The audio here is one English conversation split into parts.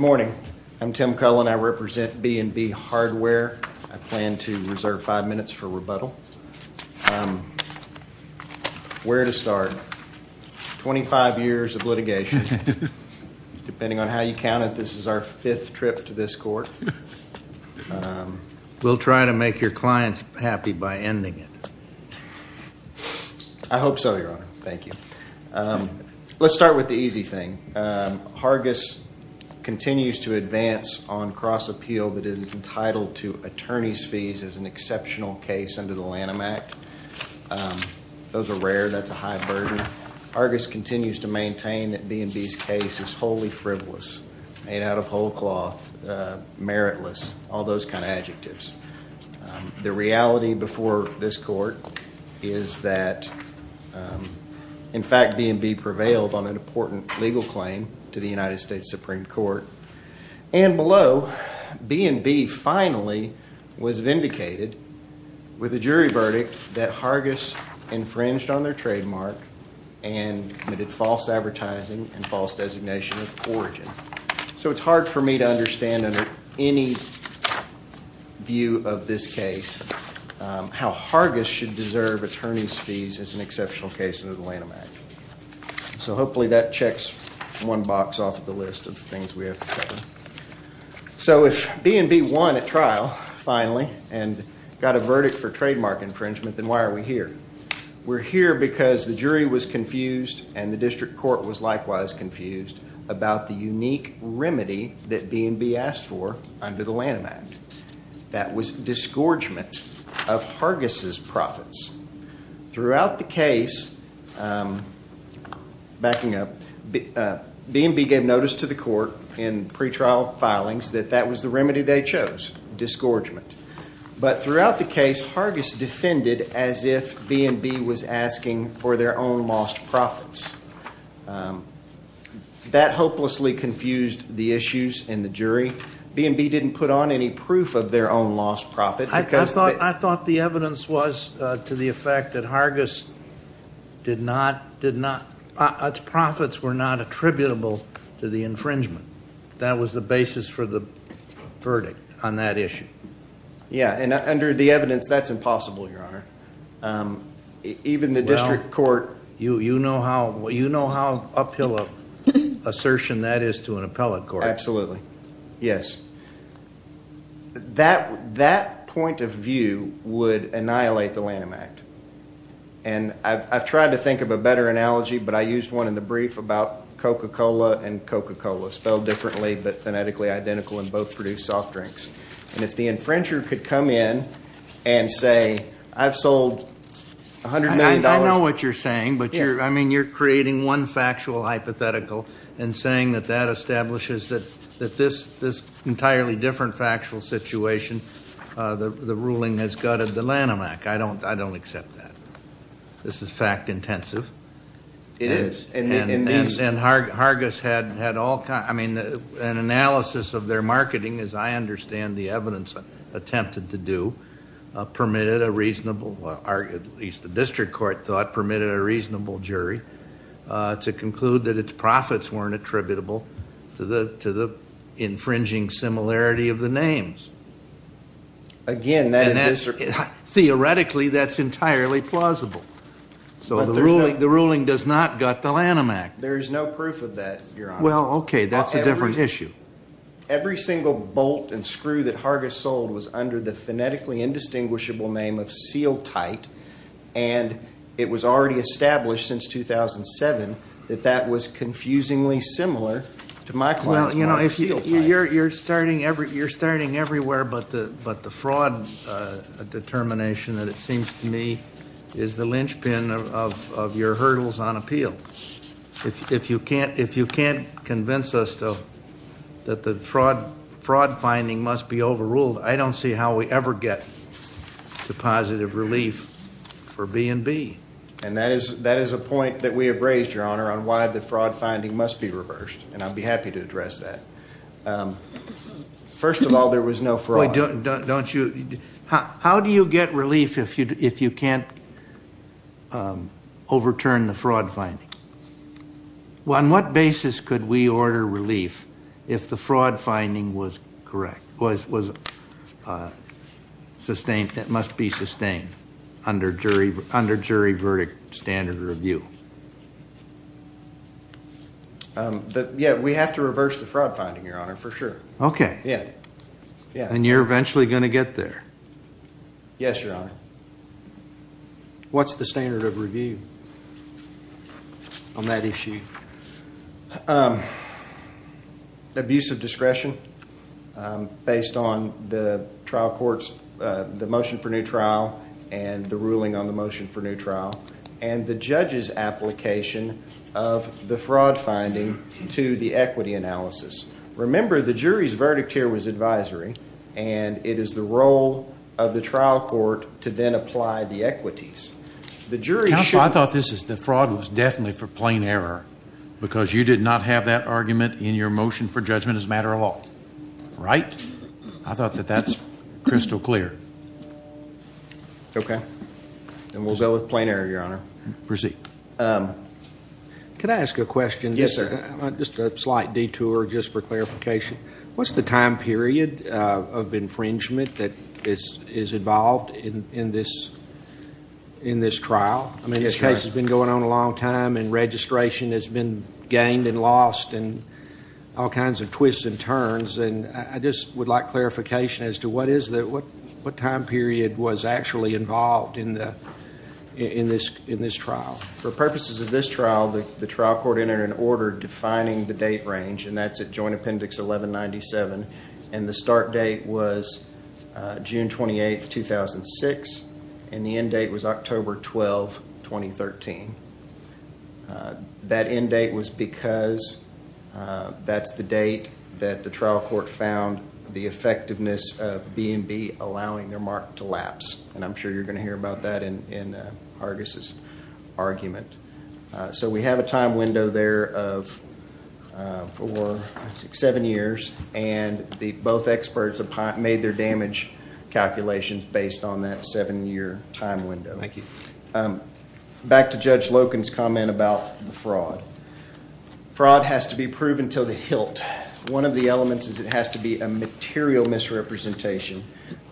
I'm Tim Cullen. I represent B&B Hardware. I plan to reserve five minutes for rebuttal. Where to start? Twenty-five years of litigation. Depending on how you count it, this is our fifth trip to this court. We'll try to make your clients happy by ending it. Let's start with the easy thing. Hargis continues to advance on cross-appeal that is entitled to attorney's fees as an exceptional case under the Lanham Act. Those are rare. That's a high burden. Hargis continues to maintain that B&B's case is wholly frivolous, made out of whole cloth, meritless, all those kind of adjectives. The reality before this court is that, in fact, B&B prevailed on an important legal claim to the United States Supreme Court. And below, B&B finally was vindicated with a jury verdict that Hargis infringed on their trademark and committed false advertising and false designation of origin. So it's hard for me to understand, under any view of this case, how Hargis should deserve attorney's fees as an exceptional case under the Lanham Act. So hopefully that checks one box off the list of things we have to cover. So if B&B won at trial, finally, and got a verdict for trademark infringement, then why are we here? We're here because the jury was confused and the district court was likewise confused about the unique remedy that B&B asked for under the Lanham Act. That was disgorgement of Hargis' profits. Throughout the case, backing up, B&B gave notice to the court in pretrial filings that that was the remedy they chose, disgorgement. But throughout the case, Hargis defended as if B&B was asking for their own lost profits. That hopelessly confused the issues in the jury. B&B didn't put on any proof of their own lost profit. I thought the evidence was to the effect that Hargis' profits were not attributable to the infringement. That was the basis for the verdict on that issue. Yeah, and under the evidence, that's impossible, Your Honor. Even the district court... Well, you know how uphill an assertion that is to an appellate court. Absolutely. Yes. That point of view would annihilate the Lanham Act. And I've tried to think of a better analogy, but I used one in the brief about Coca-Cola and Coca-Cola, spelled differently but phonetically identical and both produce soft drinks. And if the infringer could come in and say, I've sold $100 million... I know what you're saying, but you're creating one factual hypothetical and saying that that establishes that this entirely different factual situation, the ruling has gutted the Lanham Act. I don't accept that. This is fact intensive. It is. And Hargis had all kinds... I mean, an analysis of their marketing, as I understand the evidence attempted to do, permitted a reasonable... at least the district court thought permitted a reasonable jury to conclude that its profits weren't attributable to the infringing similarity of the names. Again, that... Theoretically, that's entirely plausible. So the ruling does not gut the Lanham Act. There is no proof of that, Your Honor. Well, okay, that's a different issue. Every single bolt and screw that Hargis sold was under the phonetically indistinguishable name of seal tight. And it was already established since 2007 that that was confusingly similar to my client's seal tight. You're starting everywhere but the fraud determination that it seems to me is the linchpin of your hurdles on appeal. If you can't convince us that the fraud finding must be overruled, I don't see how we ever get to positive relief for B&B. And that is a point that we have raised, Your Honor, on why the fraud finding must be reversed. And I'd be happy to address that. First of all, there was no fraud. Don't you... How do you get relief if you can't overturn the fraud finding? On what basis could we order relief if the fraud finding was correct, was sustained, must be sustained under jury verdict standard review? Yeah, we have to reverse the fraud finding, Your Honor, for sure. Okay. And you're eventually going to get there. Yes, Your Honor. What's the standard of review? On that issue. Abuse of discretion based on the trial court's, the motion for new trial and the ruling on the motion for new trial. And the judge's application of the fraud finding to the equity analysis. Remember, the jury's verdict here was advisory and it is the role of the trial court to then apply the equities. The jury should... Because you did not have that argument in your motion for judgment as a matter of law. Right? I thought that that's crystal clear. Okay. And we'll go with plain error, Your Honor. Proceed. Could I ask a question? Yes, sir. Just a slight detour just for clarification. What's the time period of infringement that is involved in this trial? I mean, this case has been going on a long time and registration has been gained and lost and all kinds of twists and turns. And I just would like clarification as to what time period was actually involved in this trial. For purposes of this trial, the trial court entered an order defining the date range, and that's at Joint Appendix 1197. And the start date was June 28, 2006, and the end date was October 12, 2013. That end date was because that's the date that the trial court found the effectiveness of B&B allowing their mark to lapse. And I'm sure you're going to hear about that in Hargis' argument. So we have a time window there of four, six, seven years. And both experts have made their damage calculations based on that seven-year time window. Thank you. Back to Judge Loken's comment about the fraud. Fraud has to be proven to the hilt. One of the elements is it has to be a material misrepresentation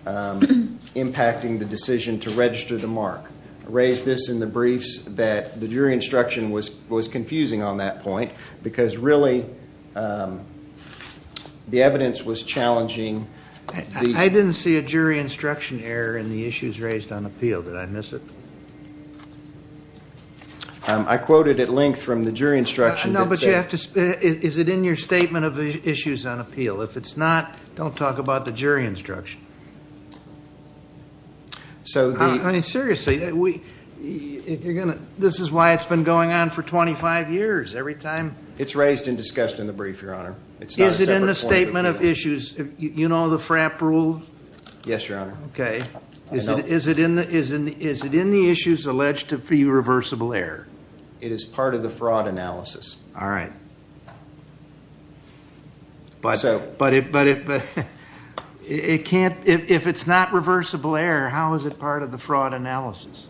impacting the decision to register the mark. I raised this in the briefs that the jury instruction was confusing on that point because really the evidence was challenging. I didn't see a jury instruction error in the issues raised on appeal. Did I miss it? I quoted at length from the jury instruction. Is it in your statement of the issues on appeal? If it's not, don't talk about the jury instruction. Seriously, this is why it's been going on for 25 years. It's raised and discussed in the brief, Your Honor. Is it in the statement of issues? You know the FRAP rule? Yes, Your Honor. Is it in the issues alleged to be reversible error? It is part of the fraud analysis. All right. But if it's not reversible error, how is it part of the fraud analysis?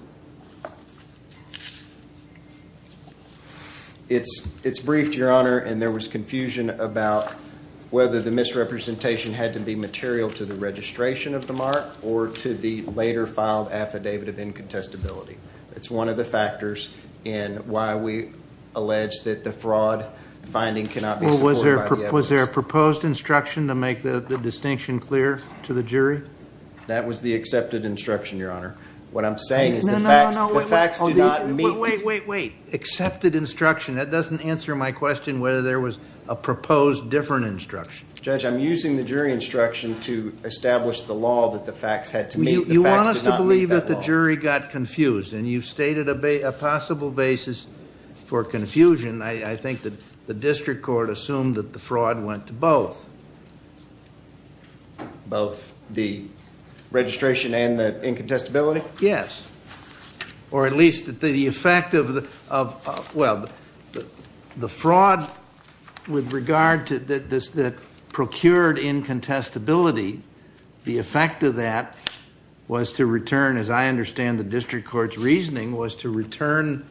It's briefed, Your Honor, and there was confusion about whether the misrepresentation had to be material to the registration of the mark or to the later filed affidavit of incontestability. It's one of the factors in why we allege that the fraud finding cannot be supported. Was there a proposed instruction to make the distinction clear to the jury? That was the accepted instruction, Your Honor. What I'm saying is the facts do not meet. Wait, wait, wait. Accepted instruction. That doesn't answer my question whether there was a proposed different instruction. Judge, I'm using the jury instruction to establish the law that the facts had to meet. You want us to believe that the jury got confused, and you've stated a possible basis for confusion. I think that the district court assumed that the fraud went to both. Both the registration and the incontestability? Yes. Or at least that the effect of the fraud with regard to the procured incontestability, the effect of that was to return, as I understand the district court's reasoning, was to return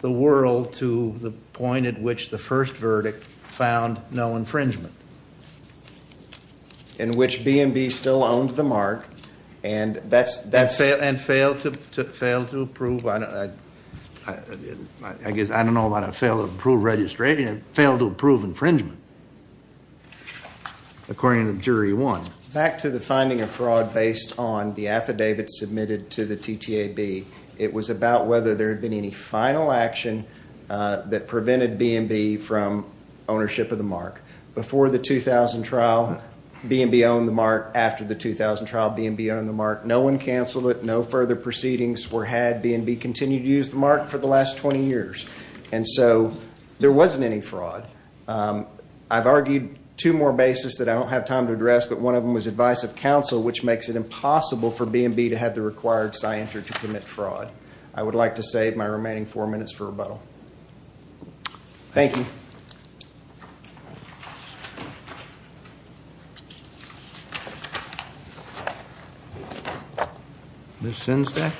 the world to the point at which the first verdict found no infringement. In which B&B still owned the mark, and that's... And failed to approve, I guess, I don't know about it, failed to approve registration, failed to approve infringement, according to jury one. Back to the finding of fraud based on the affidavit submitted to the TTAB. It was about whether there had been any final action that prevented B&B from ownership of the mark. Before the 2000 trial, B&B owned the mark. After the 2000 trial, B&B owned the mark. No one canceled it. No further proceedings were had. B&B continued to use the mark for the last 20 years. And so there wasn't any fraud. I've argued two more bases that I don't have time to address, but one of them was advice of counsel, which makes it impossible for B&B to have the required scienture to commit fraud. I would like to save my remaining four minutes for rebuttal. Thank you. Ms. Sinsday?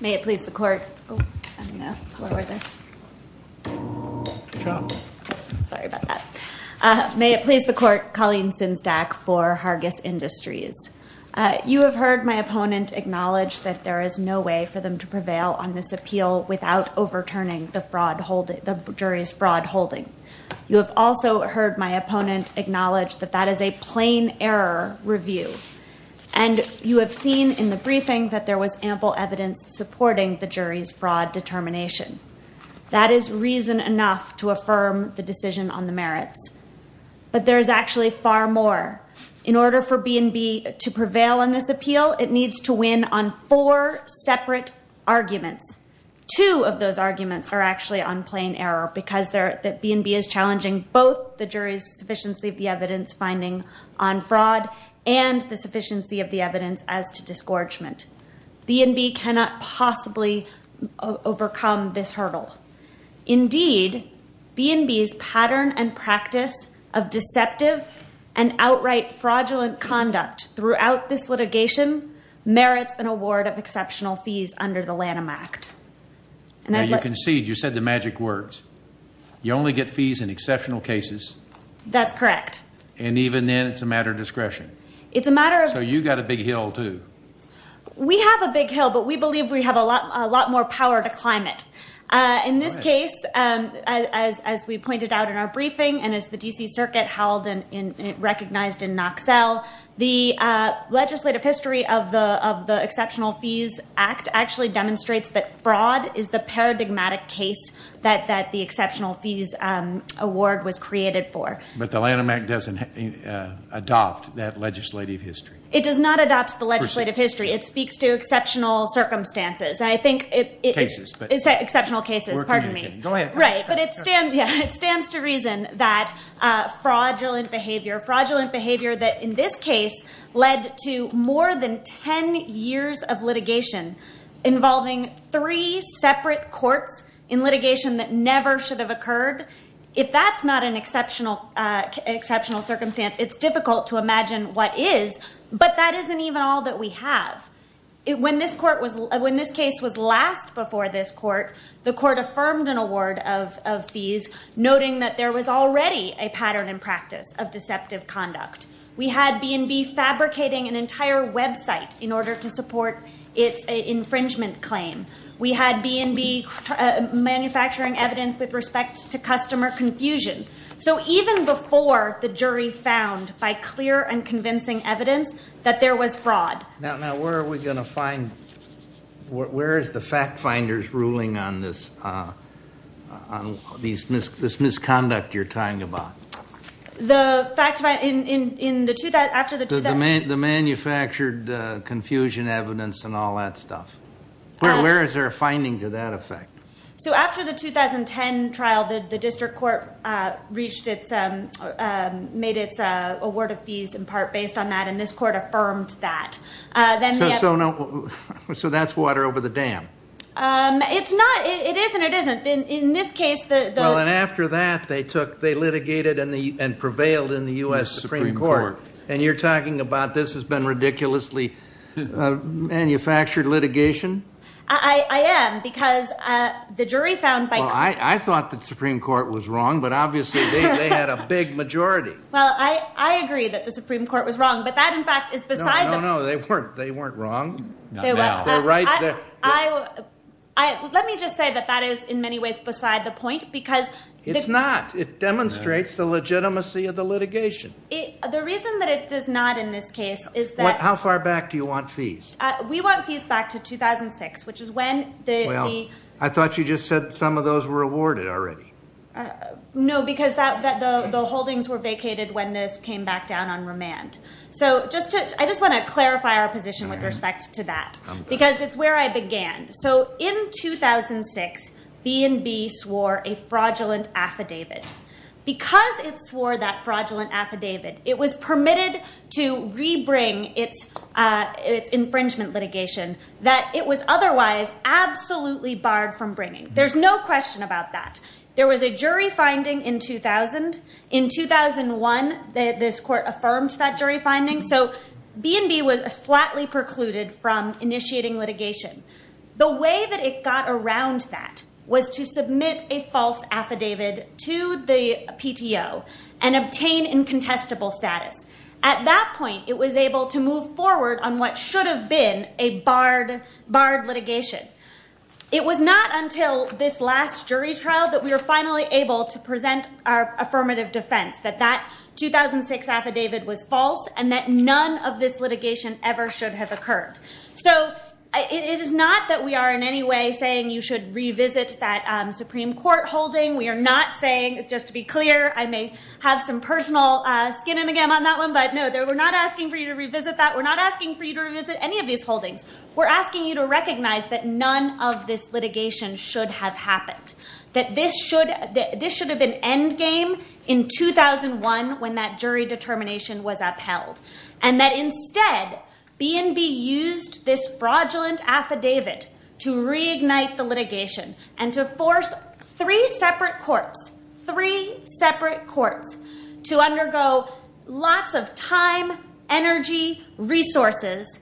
May it please the court. I'm going to lower this. Sorry about that. May it please the court. Colleen Sinsdack for Hargis Industries. You have heard my opponent acknowledge that there is no way for them to prevail on this appeal without overturning the jury's fraud holding. You have also heard my opponent acknowledge that that is a plain error review. And you have seen in the briefing that there was ample evidence supporting the jury's fraud determination. That is reason enough to affirm the decision on the merits. But there is actually far more. In order for B&B to prevail on this appeal, it needs to win on four separate arguments. Two of those arguments are actually on plain error because B&B is challenging both the jury's sufficiency of the evidence finding on fraud and the sufficiency of the evidence as to disgorgement. B&B cannot possibly overcome this hurdle. Indeed, B&B's pattern and practice of deceptive and outright fraudulent conduct throughout this litigation merits an award of exceptional fees under the Lanham Act. Now you conceded. You said the magic words. You only get fees in exceptional cases. That's correct. And even then it's a matter of discretion. So you got a big hill too. We have a big hill, but we believe we have a lot more power to climb it. In this case, as we pointed out in our briefing and as the D.C. Circuit held and recognized in Knoxell, the legislative history of the Exceptional Fees Act actually demonstrates that fraud is the paradigmatic case that the Exceptional Fees Award was created for. But the Lanham Act doesn't adopt that legislative history. It does not adopt the legislative history. And that leads to exceptional circumstances. Exceptional cases. It stands to reason that fraudulent behavior, fraudulent behavior that in this case led to more than 10 years of litigation involving three separate courts in litigation that never should have occurred. If that's not an exceptional circumstance, it's difficult to imagine what is. But that isn't even all that we have. When this case was last before this court, the court affirmed an award of fees, noting that there was already a pattern in practice of deceptive conduct. We had B&B fabricating an entire website in order to support its infringement claim. We had B&B manufacturing evidence with respect to customer confusion. So even before the jury found by clear and convincing evidence that there was fraud. Now where are we going to find, where is the fact finders ruling on this misconduct you're talking about? The manufactured confusion evidence and all that stuff. Where is there a finding to that effect? So after the 2010 trial, the district court reached its, made its award of fees in part based on that. And this court affirmed that. So that's water over the dam. It's not, it is and it isn't. In this case the. Well and after that they took, they litigated and prevailed in the U.S. Supreme Court. And you're talking about this has been ridiculously manufactured litigation? I am because the jury found by clear. Well I thought the Supreme Court was wrong but obviously they had a big majority. Well I agree that the Supreme Court was wrong but that in fact is beside the. No, no, no, they weren't wrong. They were. Let me just say that that is in many ways beside the point because. It's not, it demonstrates the legitimacy of the litigation. The reason that it does not in this case is that. How far back do you want fees? We want fees back to 2006 which is when the. I thought you just said some of those were awarded already. No because the holdings were vacated when this came back down on remand. So just to, I just want to clarify our position with respect to that. Because it's where I began. So in 2006 B&B swore a fraudulent affidavit. Because it swore that fraudulent affidavit. It was permitted to rebring its infringement litigation. That it was otherwise absolutely barred from bringing. There's no question about that. There was a jury finding in 2000. In 2001 this court affirmed that jury finding. So B&B was a flatly precluded from initiating litigation. The way that it got around that. Was to submit a false affidavit to the PTO. And obtain incontestable status. At that point it was able to move forward. On what should have been a barred litigation. It was not until this last jury trial. That we were finally able to present our affirmative defense. That that 2006 affidavit was false. And that none of this litigation ever should have occurred. So it is not that we are in any way saying. You should revisit that Supreme Court holding. We are not saying just to be clear. I may have some personal skin in the game on that one. But no we're not asking for you to revisit that. We're not asking for you to revisit any of these holdings. We're asking you to recognize. That none of this litigation should have happened. That this should have been endgame in 2001. When that jury determination was upheld. And that instead BNB used this fraudulent affidavit. To reignite the litigation. And to force three separate courts. Three separate courts. To undergo lots of time, energy, resources.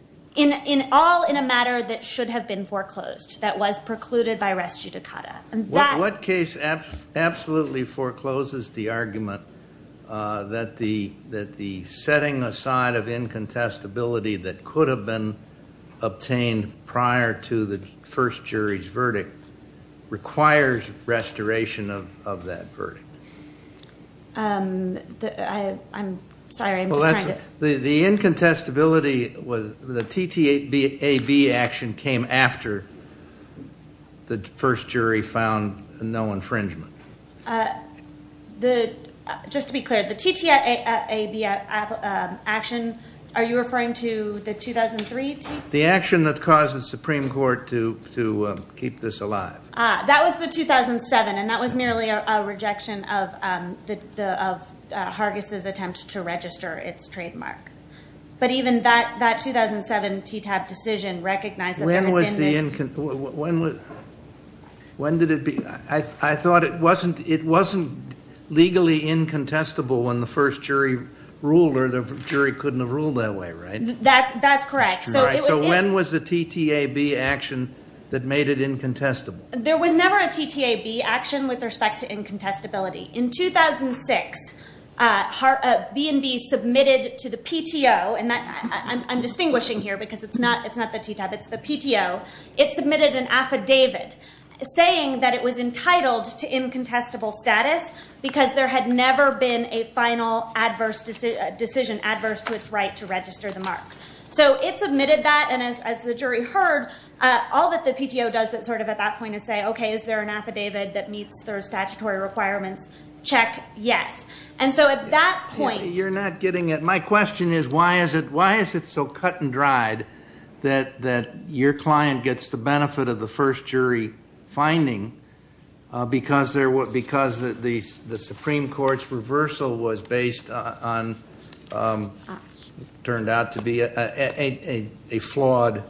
All in a matter that should have been foreclosed. That was precluded by res judicata. What case absolutely forecloses the argument. That the setting aside of incontestability. That could have been obtained prior to the first jury's verdict. Requires restoration of that verdict. I'm sorry. The incontestability was the TTAB action came after. The first jury found no infringement. Just to be clear. The TTAB action. Are you referring to the 2003 TTAB? The action that caused the Supreme Court to keep this alive. That was the 2007. And that was merely a rejection of Hargis's attempt to register its trademark. But even that 2007 TTAB decision recognized that there had been this. When did it begin? I thought it wasn't legally incontestable when the first jury ruled. Or the jury couldn't have ruled that way, right? That's correct. So when was the TTAB action that made it incontestable? There was never a TTAB action with respect to incontestability. In 2006, B&B submitted to the PTO. I'm distinguishing here because it's not the TTAB. It's the PTO. It submitted an affidavit. It was entitled to incontestable status. Because there had never been a final decision adverse to its right to register the mark. So it submitted that. And as the jury heard, all that the PTO does at that point is say, is there an affidavit that meets their statutory requirements? Check. Yes. And so at that point. You're not getting it. My question is why is it so cut and dried that your client gets the benefit of the first jury finding because the Supreme Court's reversal turned out to be a flawed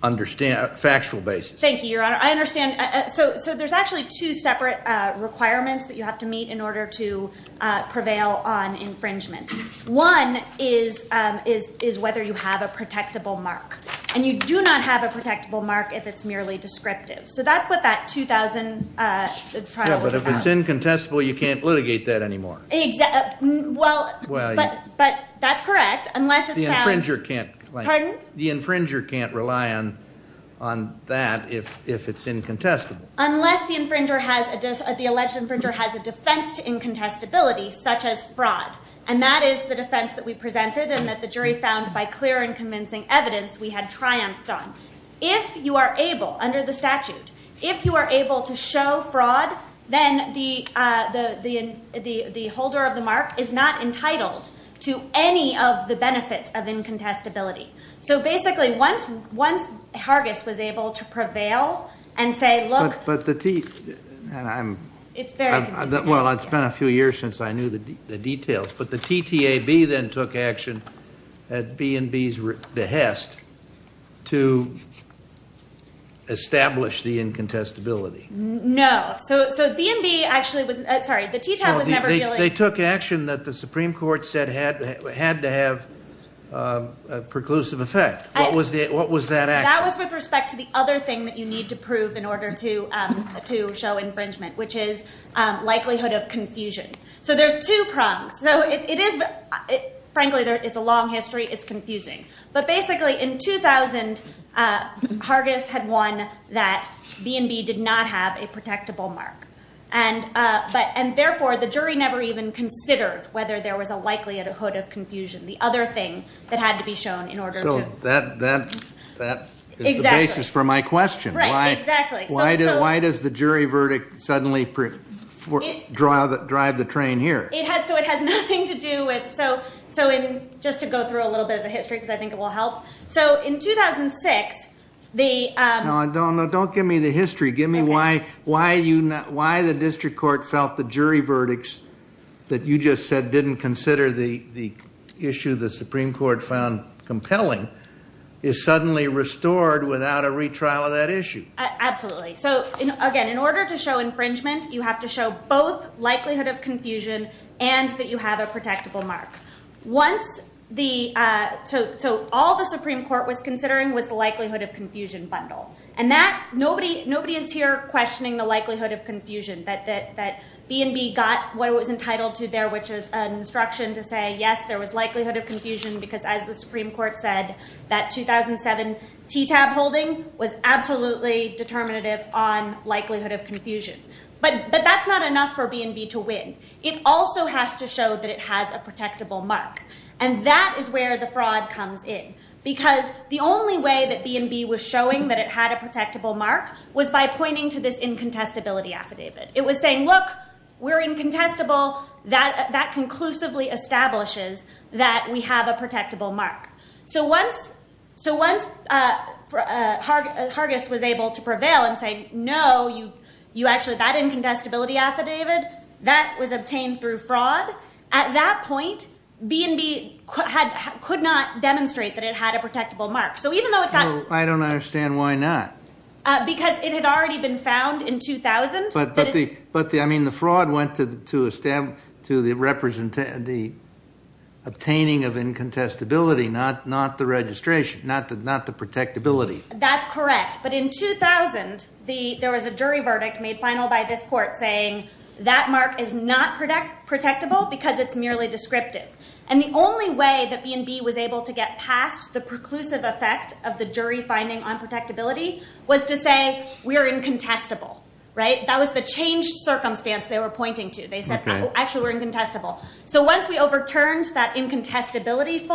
factual basis? Thank you, Your Honor. So there's actually two separate requirements that you have to meet in order to prevail on infringement. One is whether you have a protectable mark. And you do not have a protectable mark if it's merely descriptive. So that's what that 2000 trial was about. Yeah, but if it's incontestable, you can't litigate that anymore. Well, but that's correct. The infringer can't rely on that if it's incontestable. Unless the alleged infringer has a defense to incontestability such as fraud. And that is the defense that we presented and that the jury found by clear and convincing evidence we had triumphed on. If you are able, under the statute, if you are able to show fraud, then the holder of the mark is not entitled to any of the benefits of incontestability. So basically once Hargis was able to prevail and say look. But the T. It's very confusing. Well, it's been a few years since I knew the details. But the TTAB then took action at B&B's behest to establish the incontestability. No, so B&B actually was, sorry, the TTAB was never really. They took action that the Supreme Court said had to have a preclusive effect. What was that action? That was with respect to the other thing that you need to prove in order to show infringement, which is likelihood of confusion. So there's two problems. So it is, frankly, it's a long history. It's confusing. But basically in 2000, Hargis had won that B&B did not have a protectable mark. And therefore the jury never even considered whether there was a likelihood of confusion, the other thing that had to be shown in order to. So that is the basis for my question. Right, exactly. Why does the jury verdict suddenly drive the train here? So it has nothing to do with. So just to go through a little bit of the history because I think it will help. So in 2006. No, don't give me the history. Give me why the district court felt the jury verdicts that you just said didn't consider the issue the Supreme Court found compelling is suddenly restored without a retrial of that issue. Exactly. So again, in order to show infringement, you have to show both likelihood of confusion and that you have a protectable mark. So all the Supreme Court was considering was the likelihood of confusion bundle. And nobody is here questioning the likelihood of confusion that B&B got what it was entitled to there, which is an instruction to say, yes, there was likelihood of confusion because as the Supreme Court said, that 2007 TTAB holding was absolutely determinative on likelihood of confusion. But that's not enough for B&B to win. It also has to show that it has a protectable mark. And that is where the fraud comes in because the only way that B&B was showing that it had a protectable mark was by pointing to this incontestability affidavit. It was saying, look, we're incontestable. That conclusively establishes that we have a protectable mark. So once Hargis was able to prevail and say, no, that incontestability affidavit, that was obtained through fraud. At that point, B&B could not demonstrate that it had a protectable mark. So I don't understand why not. Because it had already been found in 2000. But the fraud went to the obtaining of incontestability, not the registration, not the protectability. That's correct. But in 2000, there was a jury verdict made final by this court saying, that mark is not protectable because it's merely descriptive. And the only way that B&B was able to get past the preclusive effect of the jury finding on protectability was to say, we're incontestable. That was the changed circumstance they were pointing to. They said, actually, we're incontestable. So once we overturned that incontestability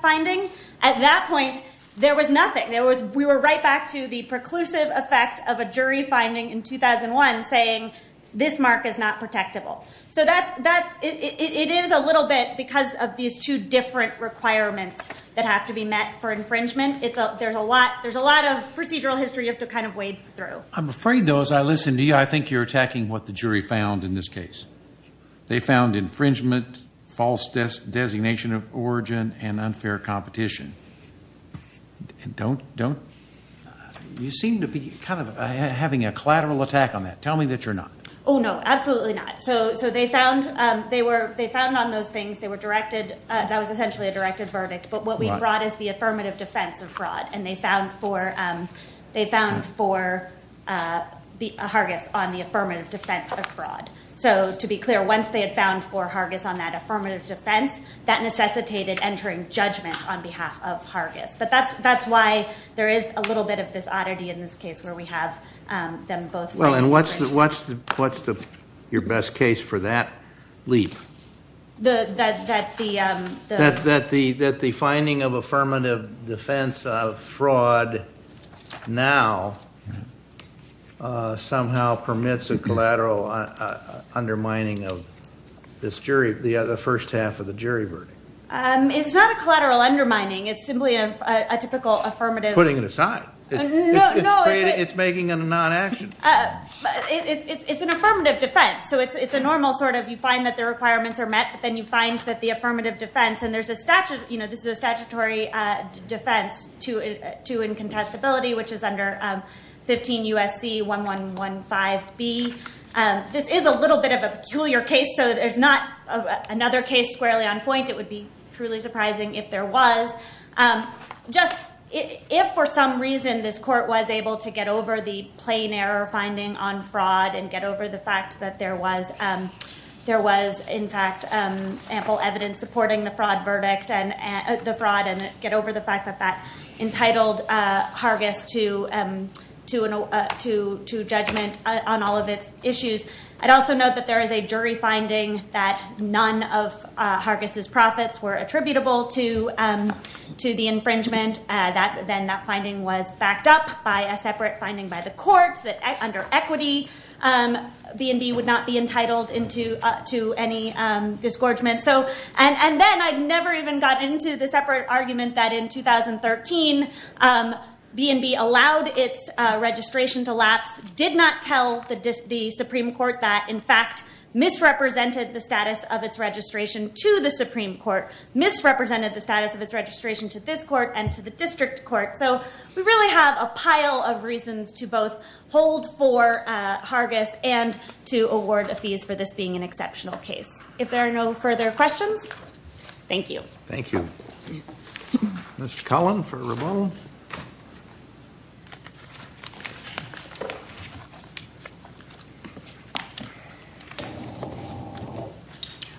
finding, at that point, there was nothing. We were right back to the preclusive effect of a jury finding in 2001 saying, this mark is not protectable. So it is a little bit because of these two different requirements that have to be met for infringement. There's a lot of procedural history you have to kind of wade through. I'm afraid, though, as I listen to you, I think you're attacking what the jury found in this case. They found infringement, false designation of origin, and unfair competition. Don't, don't, you seem to be kind of having a collateral attack on that. Tell me that you're not. Oh, no, absolutely not. So they found on those things, they were directed, that was essentially a directed verdict. But what we brought is the affirmative defense of fraud. And they found for, they found for Hargis on the affirmative defense of fraud. So to be clear, once they had found for Hargis on that affirmative defense, that necessitated entering judgment on behalf of Hargis. But that's, that's why there is a little bit of this oddity in this case where we have them both. Well, and what's the, what's the, what's the, your best case for that leap? The, that, that the. That the, that the finding of affirmative defense of fraud now somehow permits a collateral undermining of this jury, the first half of the jury verdict. It's not a collateral undermining. It's simply a typical affirmative. Putting it aside. No, no. It's making it a non-action. It's an affirmative defense. So it's a normal sort of, you find that the requirements are met, but then you find that the affirmative defense. And there's a statute, you know, this is a statutory defense to, to incontestability, which is under 15 USC 1115B. This is a little bit of a peculiar case. So there's not another case squarely on point. It would be truly surprising if there was. Just if for some reason this court was able to get over the plain error finding on fraud and get over the fact that there was, there was in fact ample evidence supporting the fraud verdict and the fraud and get over the fact that that entitled Hargis to, to, to, to judgment on all of its issues. I'd also note that there is a jury finding that none of Hargis's profits were attributable to, to the infringement that then that finding was backed up by a separate finding by the court that under equity B&B would not be entitled into to any disgorgement. So, and, and then I'd never even gotten into the separate argument that in 2013 B&B allowed its registration to lapse, did not tell the Supreme Court that in fact misrepresented the status of its registration to the Supreme Court, misrepresented the status of its registration to this court and to the district court. So we really have a pile of reasons to both hold for Hargis and to award a fees for this being an exceptional case. If there are no further questions, thank you. Thank you. Mr. Cullen for Ramon.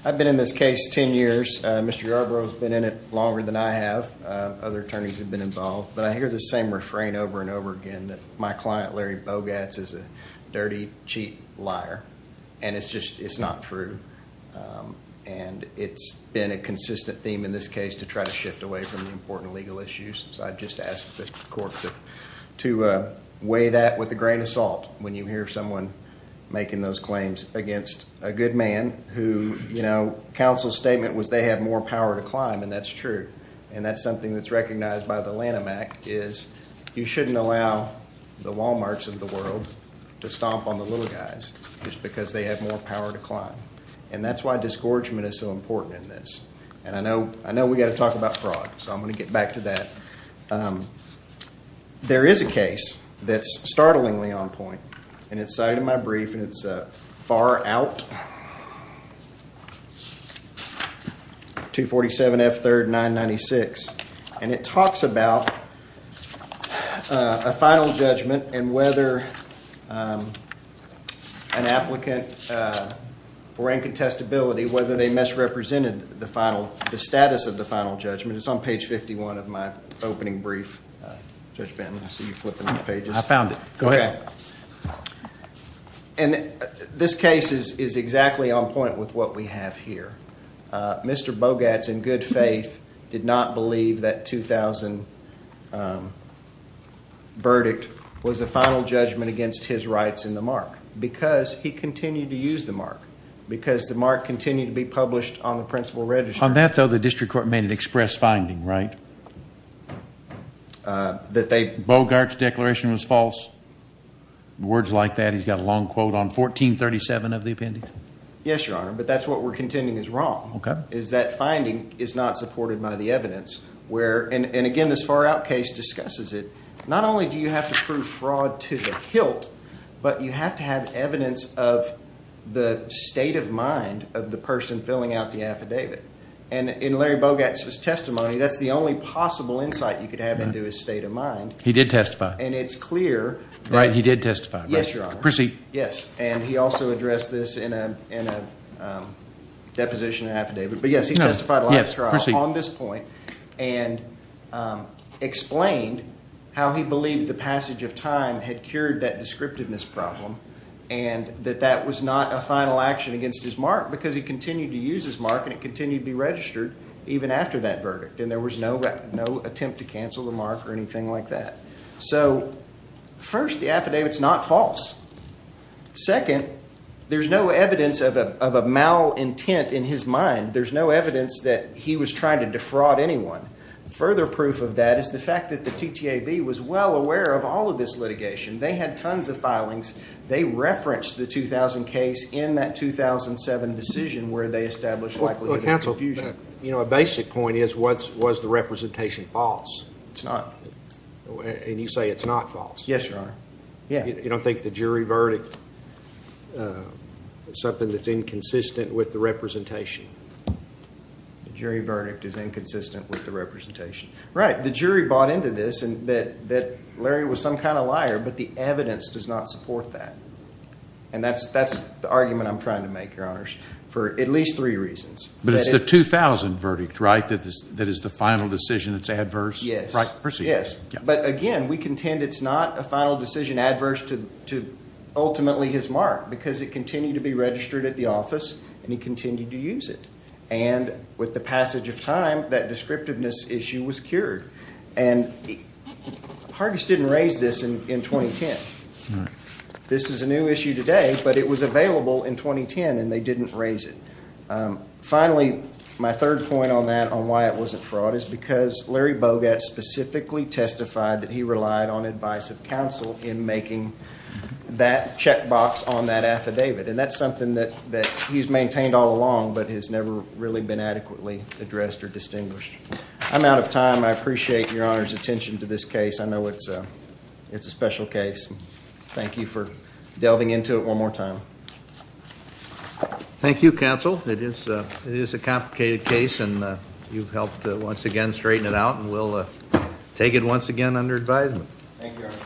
I've been in this case 10 years. Mr. Yarbrough has been in it longer than I have. Other attorneys have been involved, but I hear the same refrain over and over again that my client Larry Bogatz is a dirty cheat liar. And it's just, it's not true. And it's been a consistent theme in this case to try to shift away from the important legal issues. I've just asked the court to weigh that with a grain of salt when you hear someone making those claims against a good man who, you know, counsel's statement was they have more power to climb and that's true. And that's something that's recognized by the Lanham Act is you shouldn't allow the Walmarts of the world to stomp on the little guys just because they have more power to climb. And that's why disgorgement is so important in this. And I know, I know we got to talk about fraud. So I'm going to get back to that. There is a case that's startlingly on point and it's cited in my brief and it's far out. 247 F 3rd 996. And it talks about a final judgment and whether an applicant for incontestability, whether they misrepresented the final, the status of the final judgment. It's on page 51 of my opening brief. Judge Benton, I see you flipping the pages. I found it. Go ahead. And this case is exactly on point with what we have here. Mr. Bogarts, in good faith, did not believe that 2000 verdict was a final judgment against his rights in the mark because he continued to use the mark because the mark continued to be published on the principal register. On that, though, the district court made an express finding, right? That they Bogart's declaration was false. Words like that. He's got a long quote on 1437 of the appendix. Yes, your honor. But that's what we're contending is wrong. Is that finding is not supported by the evidence where and again, this far out case discusses it. Not only do you have to prove fraud to the hilt, but you have to have evidence of the state of mind of the person filling out the affidavit. And in Larry Bogart's testimony, that's the only possible insight you could have into his state of mind. He did testify. And it's clear. Right. He did testify. Yes, your honor. Proceed. Yes. And he also addressed this in a deposition affidavit. But, yes, he testified on this point and explained how he believed the passage of time had cured that descriptiveness problem and that that was not a final action against his mark because he continued to use his mark. And it continued to be registered even after that verdict. And there was no attempt to cancel the mark or anything like that. So, first, the affidavit's not false. Second, there's no evidence of a malintent in his mind. There's no evidence that he was trying to defraud anyone. Further proof of that is the fact that the TTAB was well aware of all of this litigation. They had tons of filings. They referenced the 2000 case in that 2007 decision where they established likelihood of confusion. Counsel, a basic point is was the representation false? It's not. And you say it's not false. Yes, your honor. You don't think the jury verdict is something that's inconsistent with the representation? The jury verdict is inconsistent with the representation. Right. The jury bought into this that Larry was some kind of liar, but the evidence does not support that. And that's the argument I'm trying to make, your honors, for at least three reasons. But it's the 2000 verdict, right, that is the final decision that's adverse? Yes. Yes. But, again, we contend it's not a final decision adverse to ultimately his mark because it continued to be registered at the office and he continued to use it. And with the passage of time, that descriptiveness issue was cured. And Hargis didn't raise this in 2010. This is a new issue today, but it was available in 2010 and they didn't raise it. Finally, my third point on that on why it wasn't fraud is because Larry Bogat specifically testified that he relied on advice of counsel in making that checkbox on that affidavit. And that's something that he's maintained all along but has never really been adequately addressed or distinguished. I'm out of time. I appreciate your honors' attention to this case. I know it's a special case. Thank you for delving into it one more time. Thank you, counsel. It is a complicated case and you've helped, once again, straighten it out and we'll take it once again under advisement. Thank you, everyone.